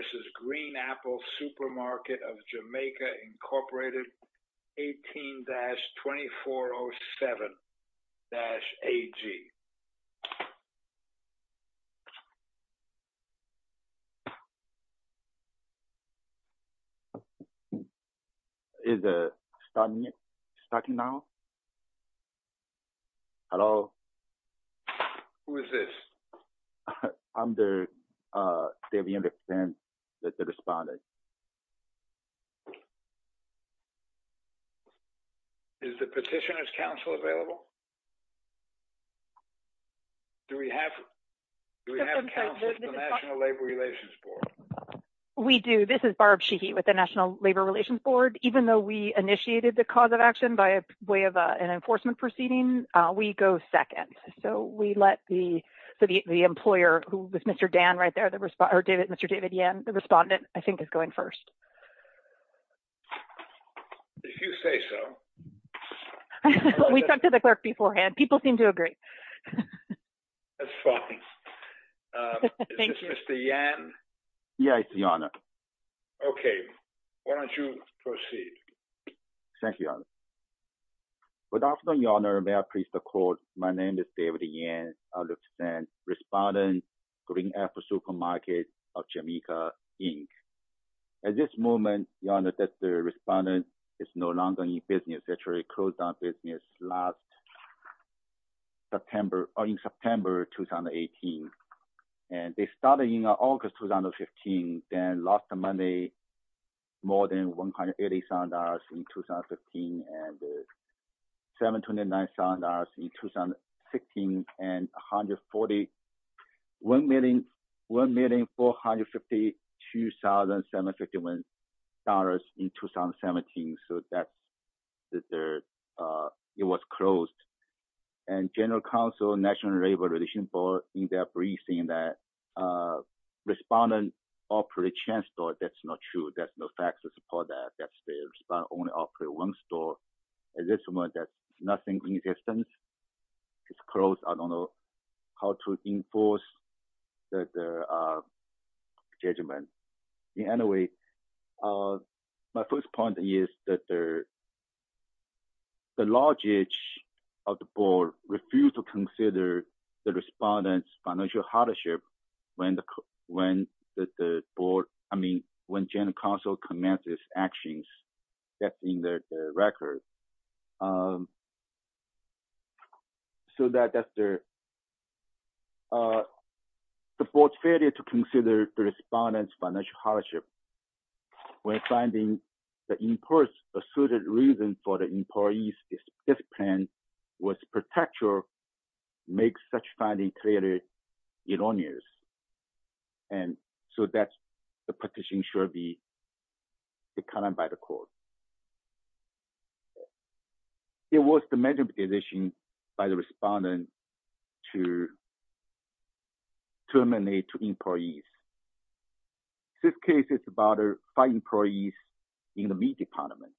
v. Green Apple Supermarket of Jamaica, Inc. 18-2407-AG Hello? Who is this? I'm the, uh, David Anderson, the respondent. Is the Petitioner's Council available? Do we have, do we have counsel from the National Labor Relations Board? We do. This is Barb Sheehy with the National Labor Relations Board. Even though we initiated the cause of action by way of an enforcement proceeding, we go second. So we let the, the employer, who is Mr. Dan right there, the respondent, or David, Mr. David Yan, the respondent, I think is going first. If you say so. We talked to the clerk beforehand. People seem to agree. That's fine. Is this Mr. Yan? Yes, Your Honor. Okay. Why don't you proceed? Thank you, Your Honor. Good afternoon, Your Honor. May I please record, my name is David Yan. I'm the respondent, Green Apple Supermarket of Jamaica, Inc. At this moment, Your Honor, that the respondent is no longer in business, actually closed down business last September, in September 2018. And they started in August 2015, then lost money, more than $180,000 in 2015, and $729,000 in 2016, and $1,452,751 in 2017. So that, it was closed. And General Counsel, National Labor Relations Board, in their briefing, that respondent operate a chain store. That's not true. That's no facts to support that. That's the respondent only operate one store. At this moment, there's nothing in existence. It's closed. I don't know how to enforce the judgment. Anyway, my first point is that the, the large of the board refused to consider the respondent's financial hardship when the, when the board, I mean, when General Counsel commences actions, that's in the record. So that, that's the, the board failed to consider the respondent's financial hardship. And so that's, the petition should be declined by the court. It was the major petition by the respondent to terminate two employees. This case is about five employees in the meat department.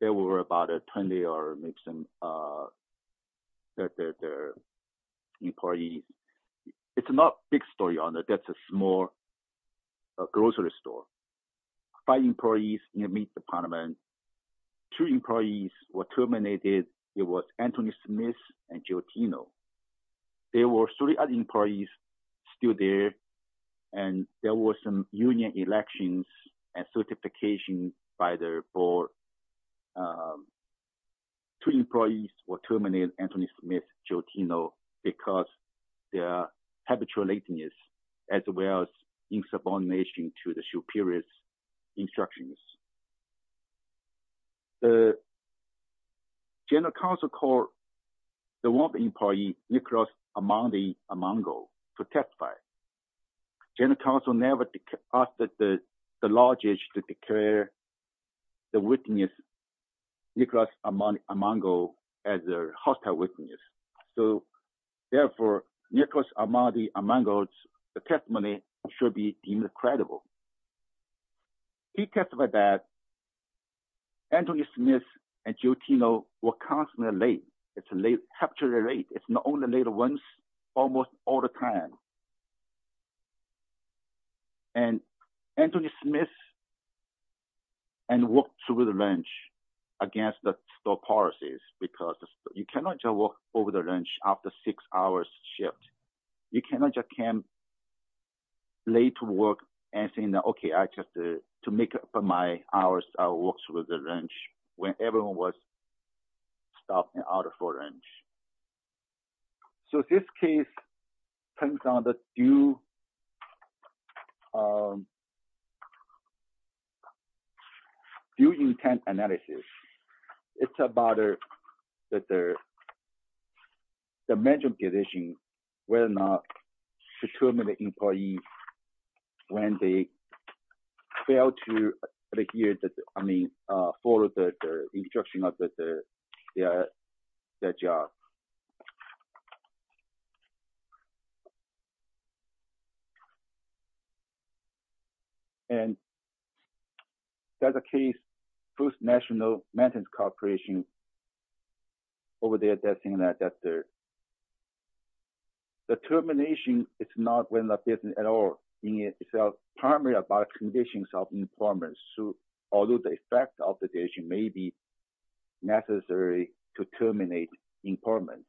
There were about 20 or so employees. It's not a big story on it. That's a small grocery store. Five employees in the meat department. Two employees were terminated. It was Anthony Smith and Joe Tino. There were three other employees still there. And there was some union elections and certification by the board. Two employees were terminated, Anthony Smith, Joe Tino, because their habitual lateness, as well as insubordination to the superior's instructions. The General Counsel called the one employee, Nicholas Amandi-Amango, to testify. General Counsel never asked the law judge to declare the witness, Nicholas Amandi-Amango, as a hostile witness. So, therefore, Nicholas Amandi-Amango's testimony should be deemed credible. He testified that Anthony Smith and Joe Tino were constantly late. It's a late, capturing late. It's not only late once, almost all the time. And Anthony Smith walked through the lunch against the store policies, because you cannot just walk over the lunch after a six-hour shift. You cannot just come late to work and say, okay, I just, to make up for my hours, I walked through the lunch, when everyone was stopped and out of lunch. So this case depends on the due intent analysis. It's about the management division, whether or not to terminate an employee when they fail to adhere to, I mean, follow the instruction of their job. And there's a case, Booth National Maintenance Corporation, over there, that's in that third. The termination is not within the business at all. It's primarily about conditions of employment, although the effect of the decision may be necessary to terminate employment.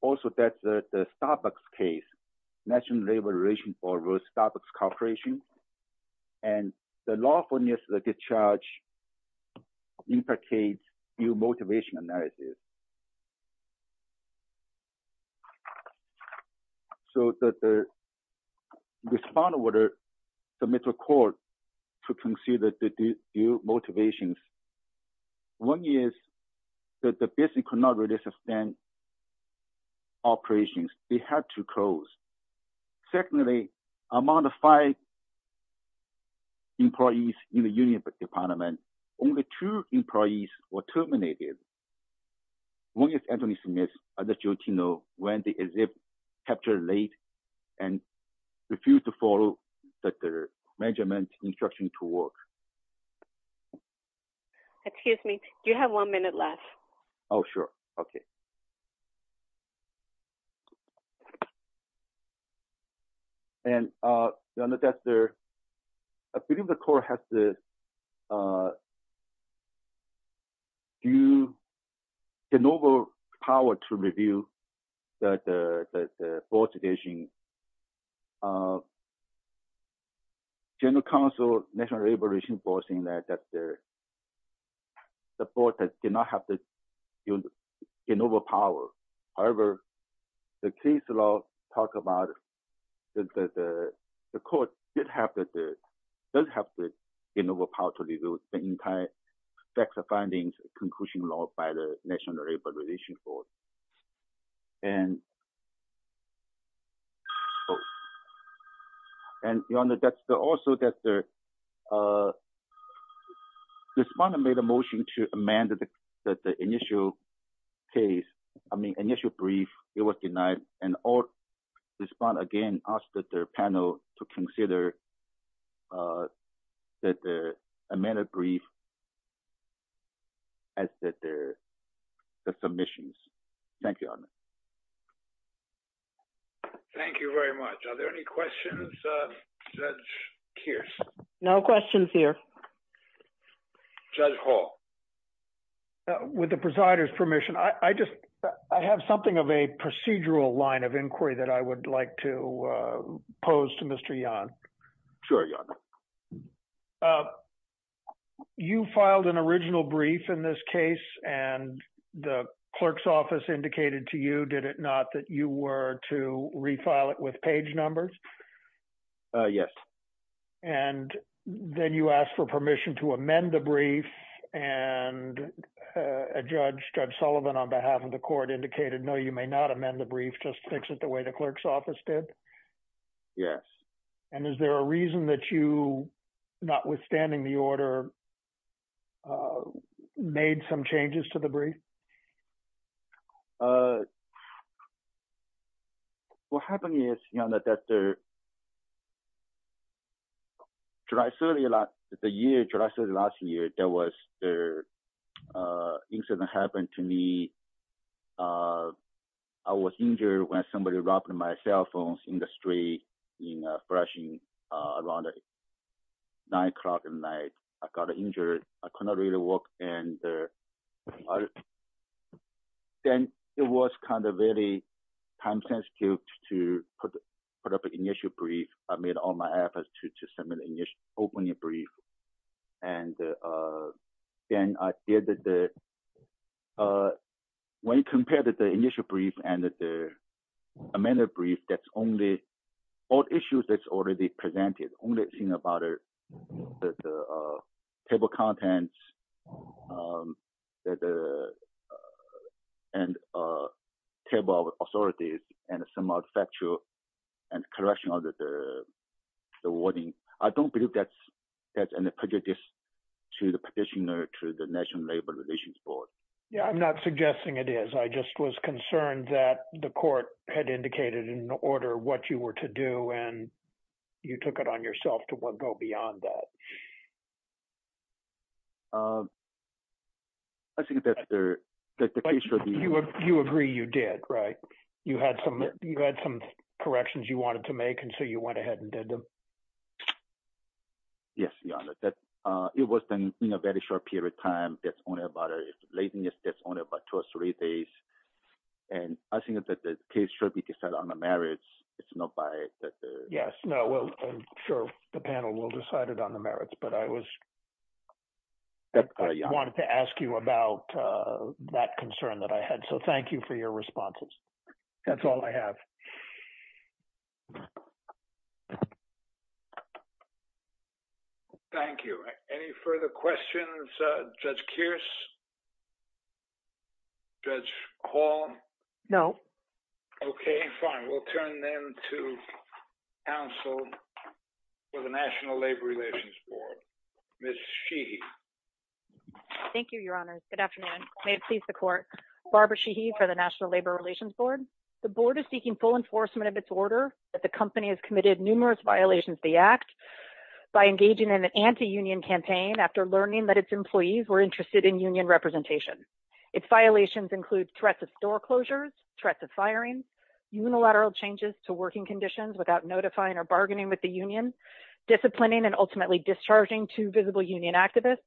Also, that's the Starbucks case, National Labor Relations Board v. Starbucks Corporation, and the lawfulness of the discharge imprecates due motivation analysis. So that the respondent, the middle court, to consider the due motivations, one is that the business could not really sustain operations. They had to close. Secondly, among the five employees in the union department, only two employees were terminated. One is Anthony Smith v. Jotino, when the exhibit was captured late and refused to follow the management instruction to work. Excuse me. Do you have one minute left? Oh, sure. Okay. And I believe the court has the power to review the board's decision. General Counsel, National Labor Relations Board, said that the board did not have the innovative power. However, the case law talks about that the court did have the innovative power to review the entire facts and findings conclusion law by the National Labor Relations Board. And also that the respondent made a motion to amend the initial case, I mean initial brief, it was denied, and the respondent again asked the panel to consider that the amended brief as the submissions. Thank you, Your Honor. Thank you very much. Are there any questions, Judge Kearse? No questions here. Judge Hall. With the presider's permission, I just, I have something of a procedural line of inquiry that I would like to pose to Mr. Yan. Sure, Your Honor. You filed an original brief in this case, and the clerk's office indicated to you, did it not, that you were to refile it with page numbers? Yes. And then you asked for permission to amend the brief, and Judge Sullivan on behalf of the court indicated, no, you may not amend the brief, just fix it the way the clerk's office did? Yes. And is there a reason that you, notwithstanding the order, made some changes to the brief? What happened is, Your Honor, that the July 30th, the year, July 30th last year, there was an incident that happened to me. I was injured when somebody robbed my cell phone in the street in a flashing around nine o'clock at night. I got injured. I could not really walk, and then it was kind of very time-sensitive to put up an initial brief. I made all my efforts to submit an opening brief, and then I did the, when you compare the initial brief and the amended brief, that's only all issues that's already presented. The only thing about it, the table of contents, and table of authorities, and some of the factual and correction of the wording, I don't believe that's any prejudice to the petitioner, to the National Labor Relations Board. Yeah, I'm not suggesting it is. I just was concerned that the court had indicated in order what you were to do, and you took it on yourself to go beyond that. I think that the case should be… You agree you did, right? You had some corrections you wanted to make, and so you went ahead and did them? Yes, Your Honor. It was done in a very short period of time. It's only about two or three days, and I think that the case should be decided on the merits. It's not by the… Yes, no, I'm sure the panel will decide it on the merits, but I wanted to ask you about that concern that I had, so thank you for your responses. That's all I have. Thank you. Any further questions, Judge Kearse? Judge Hall? No. Okay, fine. We'll turn then to counsel for the National Labor Relations Board, Ms. Sheehy. Thank you, Your Honors. Good afternoon. May it please the Court. Barbara Sheehy for the National Labor Relations Board. The Board is seeking full enforcement of its order that the company has committed numerous violations of the Act by engaging in an anti-union campaign after learning that its employees were interested in union representation. Its violations include threats of store closures, threats of firing, unilateral changes to working conditions without notifying or bargaining with the union, disciplining and ultimately discharging two visible union activists,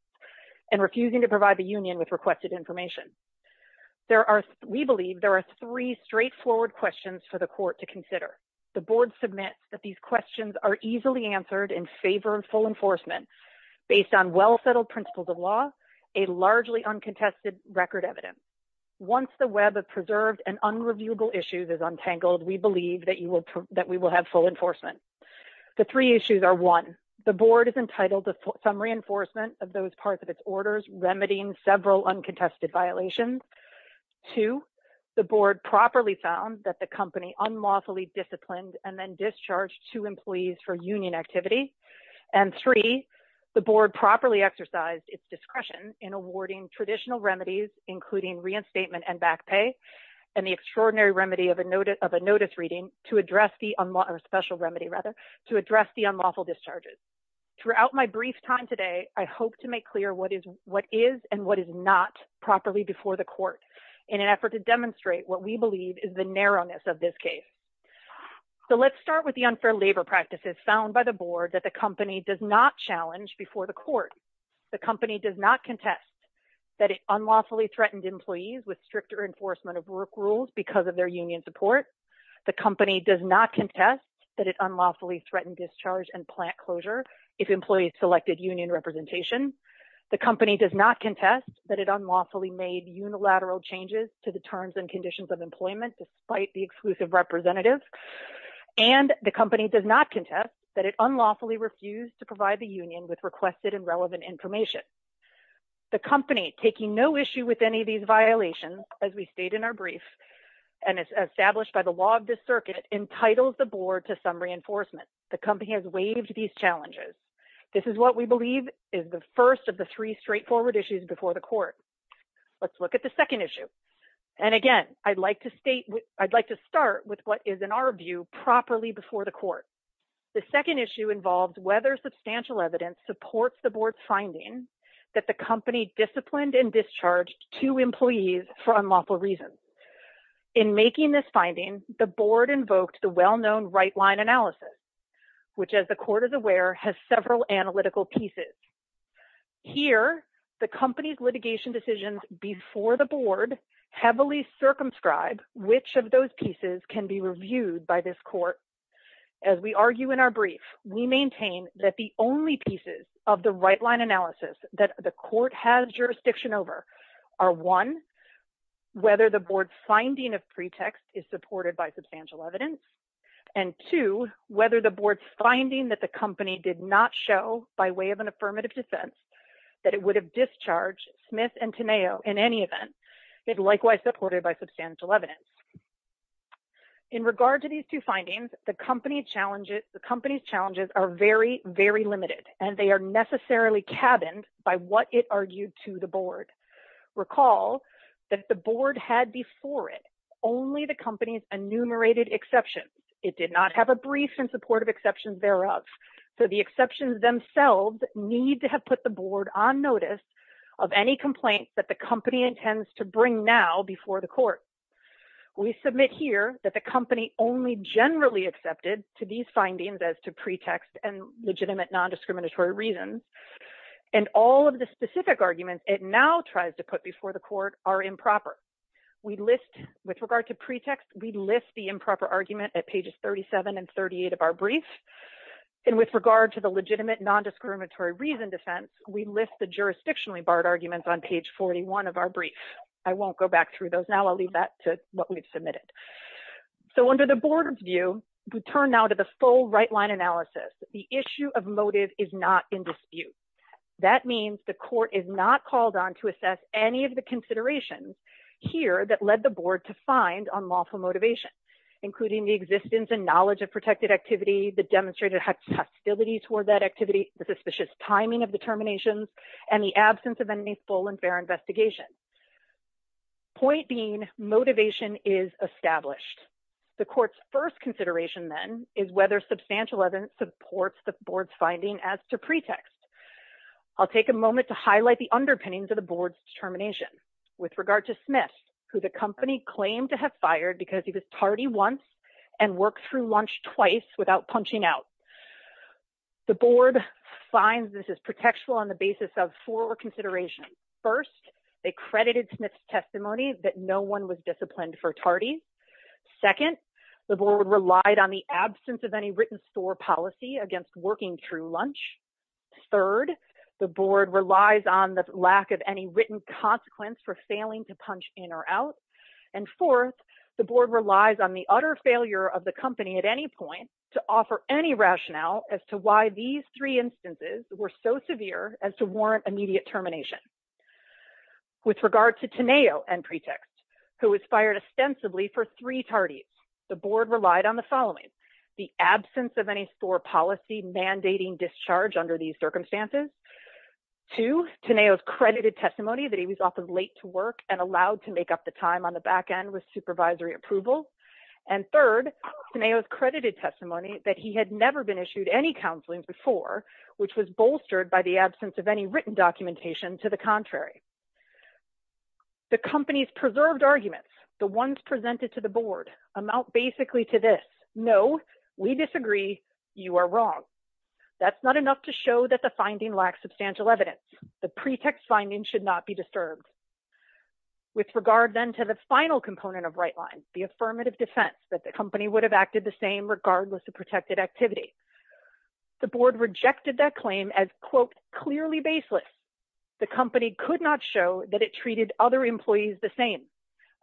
and refusing to provide the union with requested information. We believe there are three straightforward questions for the Court to consider. The Board submits that these questions are easily answered and favor full enforcement based on well-settled principles of law, a largely uncontested record evidence. Once the web of preserved and unreviewable issues is untangled, we believe that we will have full enforcement. The three issues are, one, the Board is entitled to some reinforcement of those parts of its orders remedying several uncontested violations. Two, the Board properly found that the company unlawfully disciplined and then discharged two employees for union activity. And three, the Board properly exercised its discretion in awarding traditional remedies, including reinstatement and back pay, and the extraordinary remedy of a notice reading to address the special remedy, rather, to address the unlawful discharges. Throughout my brief time today, I hope to make clear what is and what is not properly before the Court in an effort to demonstrate what we believe is the narrowness of this case. So let's start with the unfair labor practices found by the Board that the company does not challenge before the Court. The company does not contest that it unlawfully threatened employees with stricter enforcement of work rules because of their union support. The company does not contest that it unlawfully threatened discharge and plant closure if employees selected union representation. The company does not contest that it unlawfully made unilateral changes to the terms and conditions of employment despite the exclusive representative. And the company does not contest that it unlawfully refused to provide the union with requested and relevant information. The company, taking no issue with any of these violations, as we state in our brief, and as established by the law of this circuit, entitles the Board to some reinforcement. The company has waived these challenges. This is what we believe is the first of the three straightforward issues before the Court. Let's look at the second issue. And again, I'd like to start with what is, in our view, properly before the Court. The second issue involves whether substantial evidence supports the Board's finding that the company disciplined and discharged two employees for unlawful reasons. In making this finding, the Board invoked the well-known right-line analysis, which, as the Court is aware, has several analytical pieces. Here, the company's litigation decisions before the Board heavily circumscribe which of those pieces can be reviewed by this Court. As we argue in our brief, we maintain that the only pieces of the right-line analysis that the Court has jurisdiction over are, one, whether the Board's finding of pretext is supported by substantial evidence, and, two, whether the Board's finding that the company did not show, by way of an affirmative defense, that it would have discharged Smith and Tenao in any event, is likewise supported by substantial evidence. In regard to these two findings, the company's challenges are very, very limited, and they are necessarily cabined by what it argued to the Board. Recall that the Board had before it only the company's enumerated exceptions. It did not have a brief in support of exceptions thereof. So the exceptions themselves need to have put the Board on notice of any complaints that the company intends to bring now before the Court. We submit here that the company only generally accepted to these findings as to pretext and legitimate nondiscriminatory reason, and all of the specific arguments it now tries to put before the Court are improper. With regard to pretext, we list the improper argument at pages 37 and 38 of our brief, and with regard to the legitimate nondiscriminatory reason defense, we list the jurisdictionally barred arguments on page 41 of our brief. I won't go back through those now. I'll leave that to what we've submitted. So under the Board's view, we turn now to the full right-line analysis. The issue of motive is not in dispute. That means the Court is not called on to assess any of the considerations here that led the Board to find unlawful motivation, including the existence and knowledge of protected activity, the demonstrated hostility toward that activity, the suspicious timing of the terminations, and the absence of any full and fair investigation. Point being, motivation is established. The Court's first consideration, then, is whether substantial evidence supports the Board's finding as to pretext. I'll take a moment to highlight the underpinnings of the Board's determination. With regard to Smith, who the company claimed to have fired because he was tardy once and worked through lunch twice without punching out, the Board finds this is protectful on the basis of four considerations. First, they credited Smith's testimony that no one was disciplined for tardy. Second, the Board relied on the absence of any written store policy against working through lunch. Third, the Board relies on the lack of any written consequence for failing to punch in or out. And fourth, the Board relies on the utter failure of the company at any point to offer any rationale as to why these three instances were so severe as to warrant immediate termination. With regard to Teneo and Pretext, who was fired ostensibly for three tardies, the Board relied on the following. The absence of any store policy mandating discharge under these circumstances. Two, Teneo's credited testimony that he was often late to work and allowed to make up the time on the back end with supervisory approval. And third, Teneo's credited testimony that he had never been issued any counseling before, which was bolstered by the absence of any written documentation to the contrary. The company's preserved arguments, the ones presented to the Board, amount basically to this. No, we disagree. You are wrong. That's not enough to show that the finding lacks substantial evidence. The Pretext finding should not be disturbed. With regard then to the final component of Rightline, the affirmative defense that the company would have acted the same regardless of protected activity. The Board rejected that claim as, quote, clearly baseless. The company could not show that it treated other employees the same.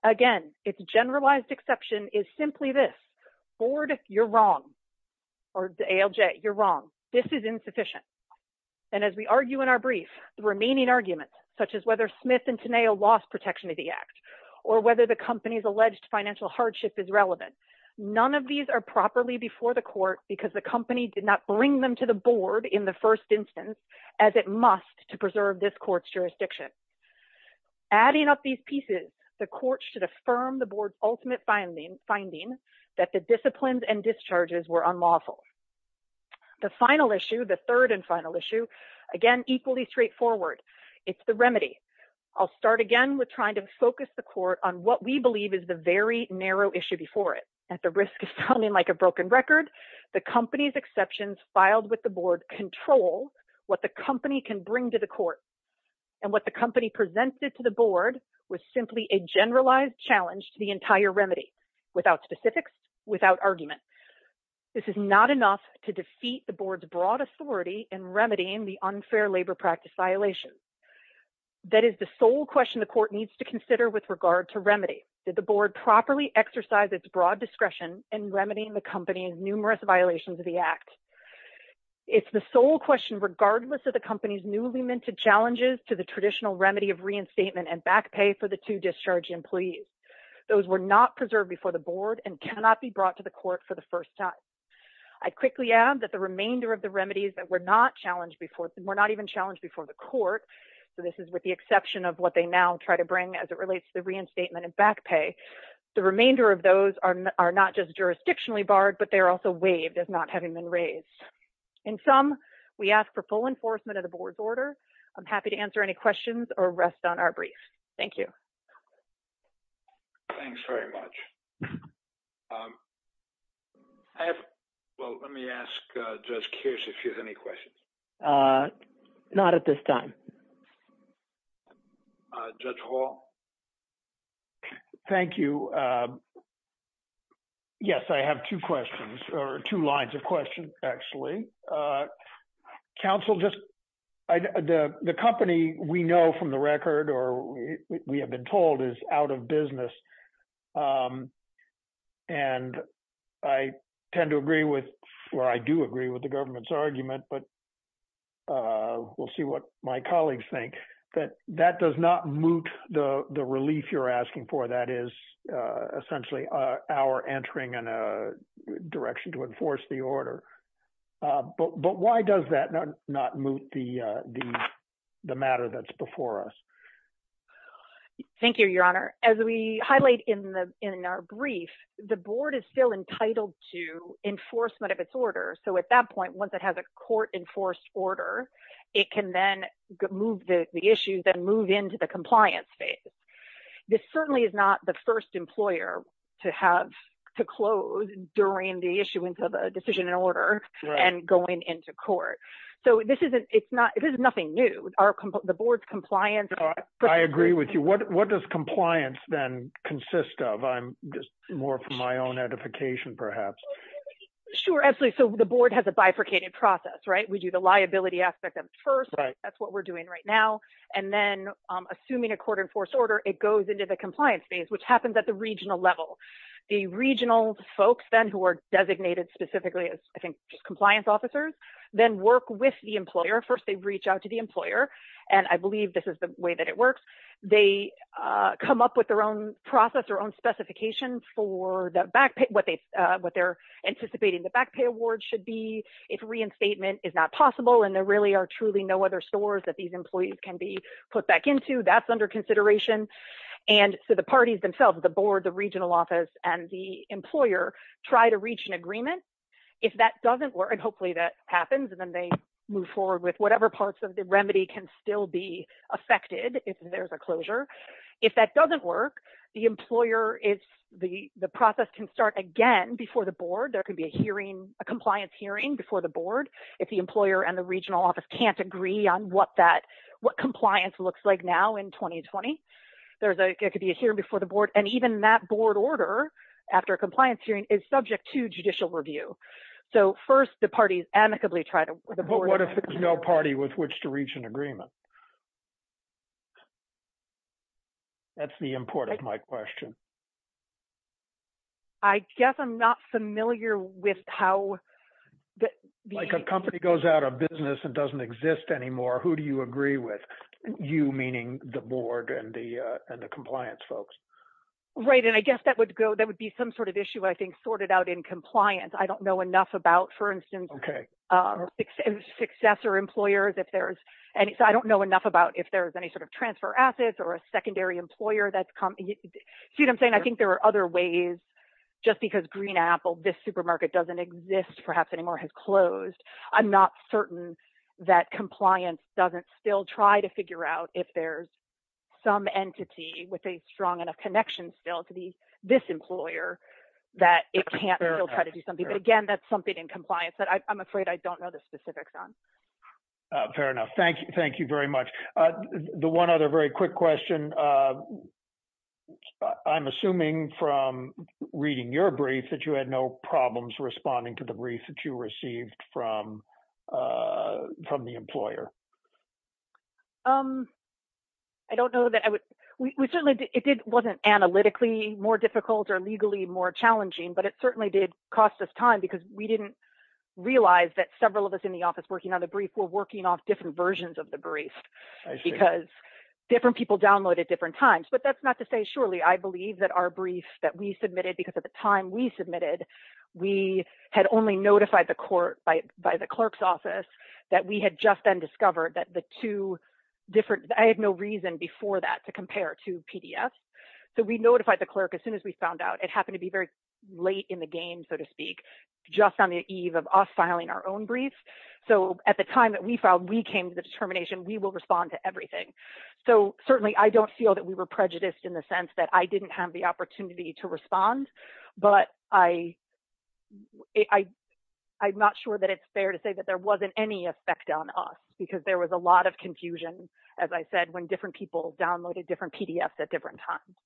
Again, its generalized exception is simply this. Board, you're wrong. Or ALJ, you're wrong. This is insufficient. And as we argue in our brief, the remaining arguments, such as whether Smith and Teneo lost protection of the Act, or whether the company's alleged financial hardship is relevant, none of these are properly before the Court because the company did not bring them to the Board in the first instance, as it must to preserve this Court's jurisdiction. Adding up these pieces, the Court should affirm the Board's ultimate finding, that the disciplines and discharges were unlawful. The final issue, the third and final issue, again, equally straightforward. It's the remedy. I'll start again with trying to focus the Court on what we believe is the very narrow issue before it. At the risk of sounding like a broken record, the company's exceptions filed with the Board control what the company can bring to the Court. And what the company presented to the Board was simply a generalized challenge to the entire remedy, without specifics, without argument. This is not enough to defeat the Board's broad authority in remedying the unfair labor practice violations. That is the sole question the Court needs to consider with regard to remedy. Did the Board properly exercise its broad discretion in remedying the company's numerous violations of the Act? It's the sole question, regardless of the company's newly minted challenges to the traditional remedy of reinstatement and back pay for the two discharge employees. Those were not preserved before the Board and cannot be brought to the Court for the first time. I quickly add that the remainder of the remedies that were not even challenged before the Court, so this is with the exception of what they now try to bring as it relates to the reinstatement and back pay, the remainder of those are not just jurisdictionally barred, but they are also waived as not having been raised. In sum, we ask for full enforcement of the Board's order. I'm happy to answer any questions or rest on our brief. Thank you. Thank you very much. Let me ask Judge Kearse if he has any questions. Not at this time. Judge Hall? Thank you. Yes, I have two questions, or two lines of questions, actually. Council, the company we know from the record, or we have been told, is out of business. And I tend to agree with, or I do agree with the government's argument, but we'll see what my colleagues think. But that does not moot the relief you're asking for. That is essentially our entering in a direction to enforce the order. But why does that not moot the matter that's before us? Thank you, Your Honor. As we highlight in our brief, the Board is still entitled to enforcement of its order. So at that point, once it has a court-enforced order, it can then move the issues and move into the compliance phase. This certainly is not the first employer to close during the issuance of a decision and order and going into court. So this is nothing new. I agree with you. What does compliance then consist of? More from my own edification, perhaps. Sure, absolutely. So the Board has a bifurcated process, right? We do the liability aspect first. That's what we're doing right now. And then, assuming a court-enforced order, it goes into the compliance phase, which happens at the regional level. The regional folks, then, who are designated specifically as, I think, compliance officers, then work with the employer. First, they reach out to the employer. And I believe this is the way that it works. They come up with their own process, their own specifications for what they're anticipating the back pay award should be. If reinstatement is not possible and there really are truly no other stores that these employees can be put back into, that's under consideration. And so the parties themselves, the Board, the regional office, and the employer, try to reach an agreement. If that doesn't work, and hopefully that happens, and then they move forward with whatever parts of the remedy can still be affected if there's a closure. If that doesn't work, the employer, the process can start again before the Board. There could be a hearing, a compliance hearing, before the Board. If the employer and the regional office can't agree on what compliance looks like now in 2020, there could be a hearing before the Board. And even that Board order, after a compliance hearing, is subject to judicial review. So first, the parties amicably try to... But what if there's no party with which to reach an agreement? That's the import of my question. I guess I'm not familiar with how... Like a company goes out of business and doesn't exist anymore, who do you agree with? You, meaning the Board and the compliance folks. Right. And I guess that would be some sort of issue, I think, sorted out in compliance. I don't know enough about, for instance, successor employers if there's... I don't know enough about if there's any sort of transfer assets or a secondary employer that's... See what I'm saying? I think there are other ways. Just because Green Apple, this supermarket, doesn't exist perhaps anymore, has closed. I'm not certain that compliance doesn't still try to figure out if there's some entity with a strong enough connection still to this employer that it can't still try to do something. But again, that's something in compliance that I'm afraid I don't know the specifics on. Fair enough. Thank you very much. The one other very quick question. I'm assuming from reading your brief that you had no problems responding to the brief that you received from the employer. I don't know that I would... It wasn't analytically more difficult or legally more challenging, but it certainly did cost us time because we didn't realize that several of us in the office working on a brief were working off different versions of the brief. I see. Because different people downloaded different times. But that's not to say surely I believe that our brief that we submitted, because at the time we submitted, we had only notified the court by the clerk's office that we had just then discovered that the two different... I had no reason before that to compare to PDF. So we notified the clerk as soon as we found out. It happened to be very late in the game, so to speak, just on the eve of us filing our own brief. So at the time that we filed, we came to the determination we will respond to everything. So certainly I don't feel that we were prejudiced in the sense that I didn't have the opportunity to respond. But I'm not sure that it's fair to say that there wasn't any effect on us because there was a lot of confusion, as I said, when different people downloaded different PDFs at different times.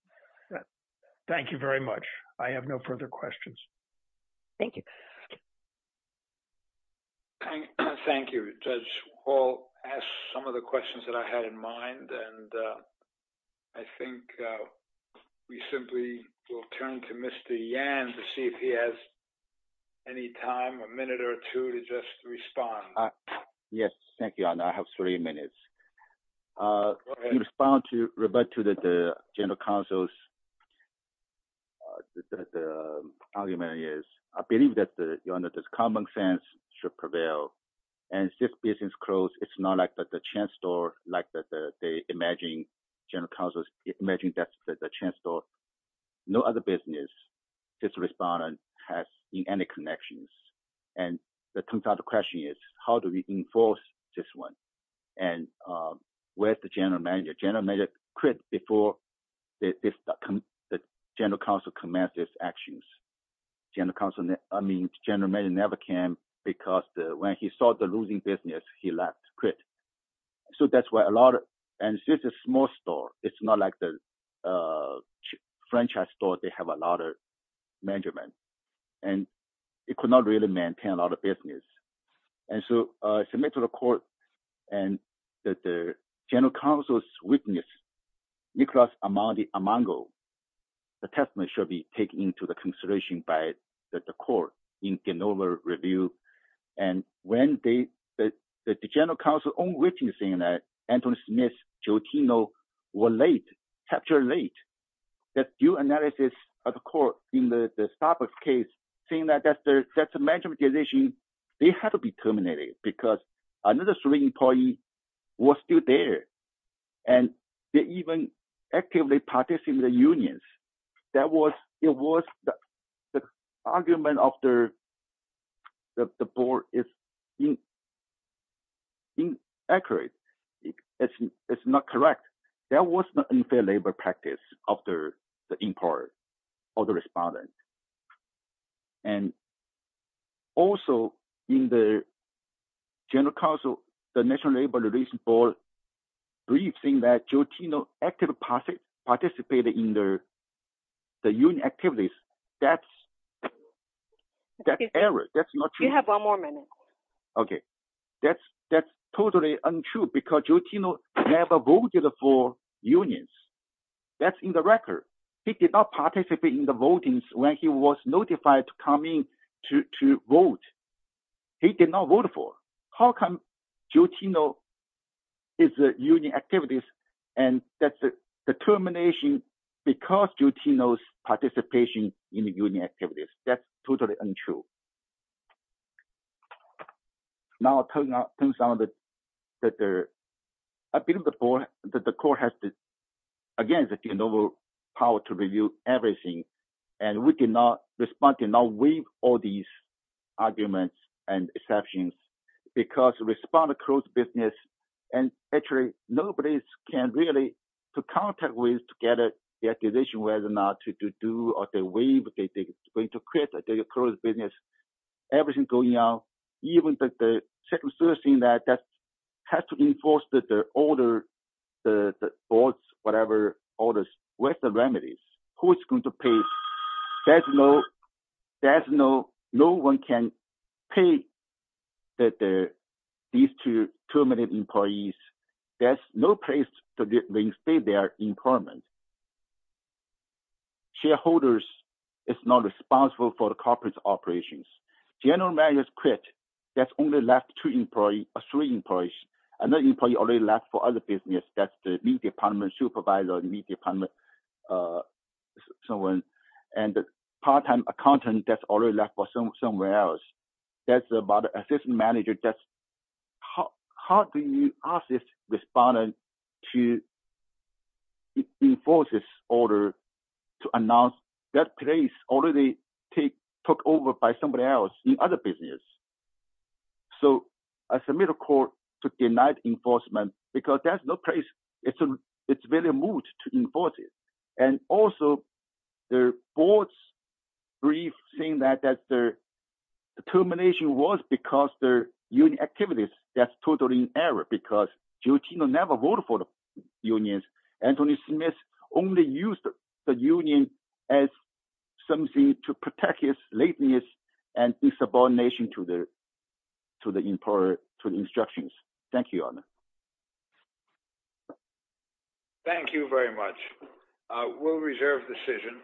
Thank you very much. I have no further questions. Thank you. Thank you. Judge Hall asked some of the questions that I had in mind, and I think we simply will turn to Mr. Yan to see if he has any time, a minute or two to just respond. Yes. Thank you, Your Honor. I have three minutes. Go ahead. I can respond to the general counsel's argument. I believe that common sense should prevail. And since business closed, it's not like the chain store, like the general counsel's imagined that the chain store. No other business, this respondent, has any connections. And the question is, how do we enforce this one? And where's the general manager? General manager quit before the general counsel commenced his actions. General counsel, I mean, general manager never came because when he saw the losing business, he left, quit. So that's why a lot of, and this is a small store, it's not like the franchise store, they have a lot of management. And it could not really maintain a lot of business. And so I submit to the court and that the general counsel's witness, Nicholas Armando, the testimony should be taken into the consideration by the court in Genova review. And when the general counsel's own witness, Anthony Smith, Jotino were late, captured late. That due analysis of the court in the Starbucks case, seeing that that's a management decision, they had to be terminated because another employee was still there. And they even actively participate in the unions. That was, it was the argument of the board is inaccurate. It's not correct. That was the unfair labor practice of the employer or the respondent. And also in the general counsel, the National Labor Relations Board briefed saying that Jotino actively participated in the union activities. That's an error. You have one more minute. Okay. That's totally untrue because Jotino never voted for unions. That's in the record. He did not participate in the voting when he was notified to come in to vote. He did not vote for. How come Jotino is a union activities and that's the termination because Jotino's participation in the union activities. That's totally untrue. Now it turns out that there, I believe the board, that the court has, again, the power to review everything. And we cannot respond, cannot waive all these arguments and exceptions because respond to closed business. And actually, nobody can really put contact with to get a decision whether or not to do or to waive, to quit, to close business. Everything's going out. Even the circumstances that has to be enforced, the order, the board's whatever orders, where's the remedies? Who's going to pay? There's no, there's no, no one can pay these two terminate employees. There's no place to stay their employment. Shareholders is not responsible for the corporate operations. General managers quit. That's only left two employees, three employees. Another employee already left for other business. That's the new department supervisor, new department, so on. And the part-time accountant that's already left for somewhere else. That's about an assistant manager. That's, how do you ask this respondent to enforce this order to announce that place already take, took over by somebody else in other business? So, I submit a court to deny enforcement because there's no place. It's a, it's really a mood to enforce it. And also, the board's brief saying that, that the termination was because their union activities. That's totally an error because Jotino never voted for the unions. Anthony Smith only used the union as something to protect his lateness and this abomination to the, to the employer, to the instructions. Thank you. Thank you very much. We'll reserve decision.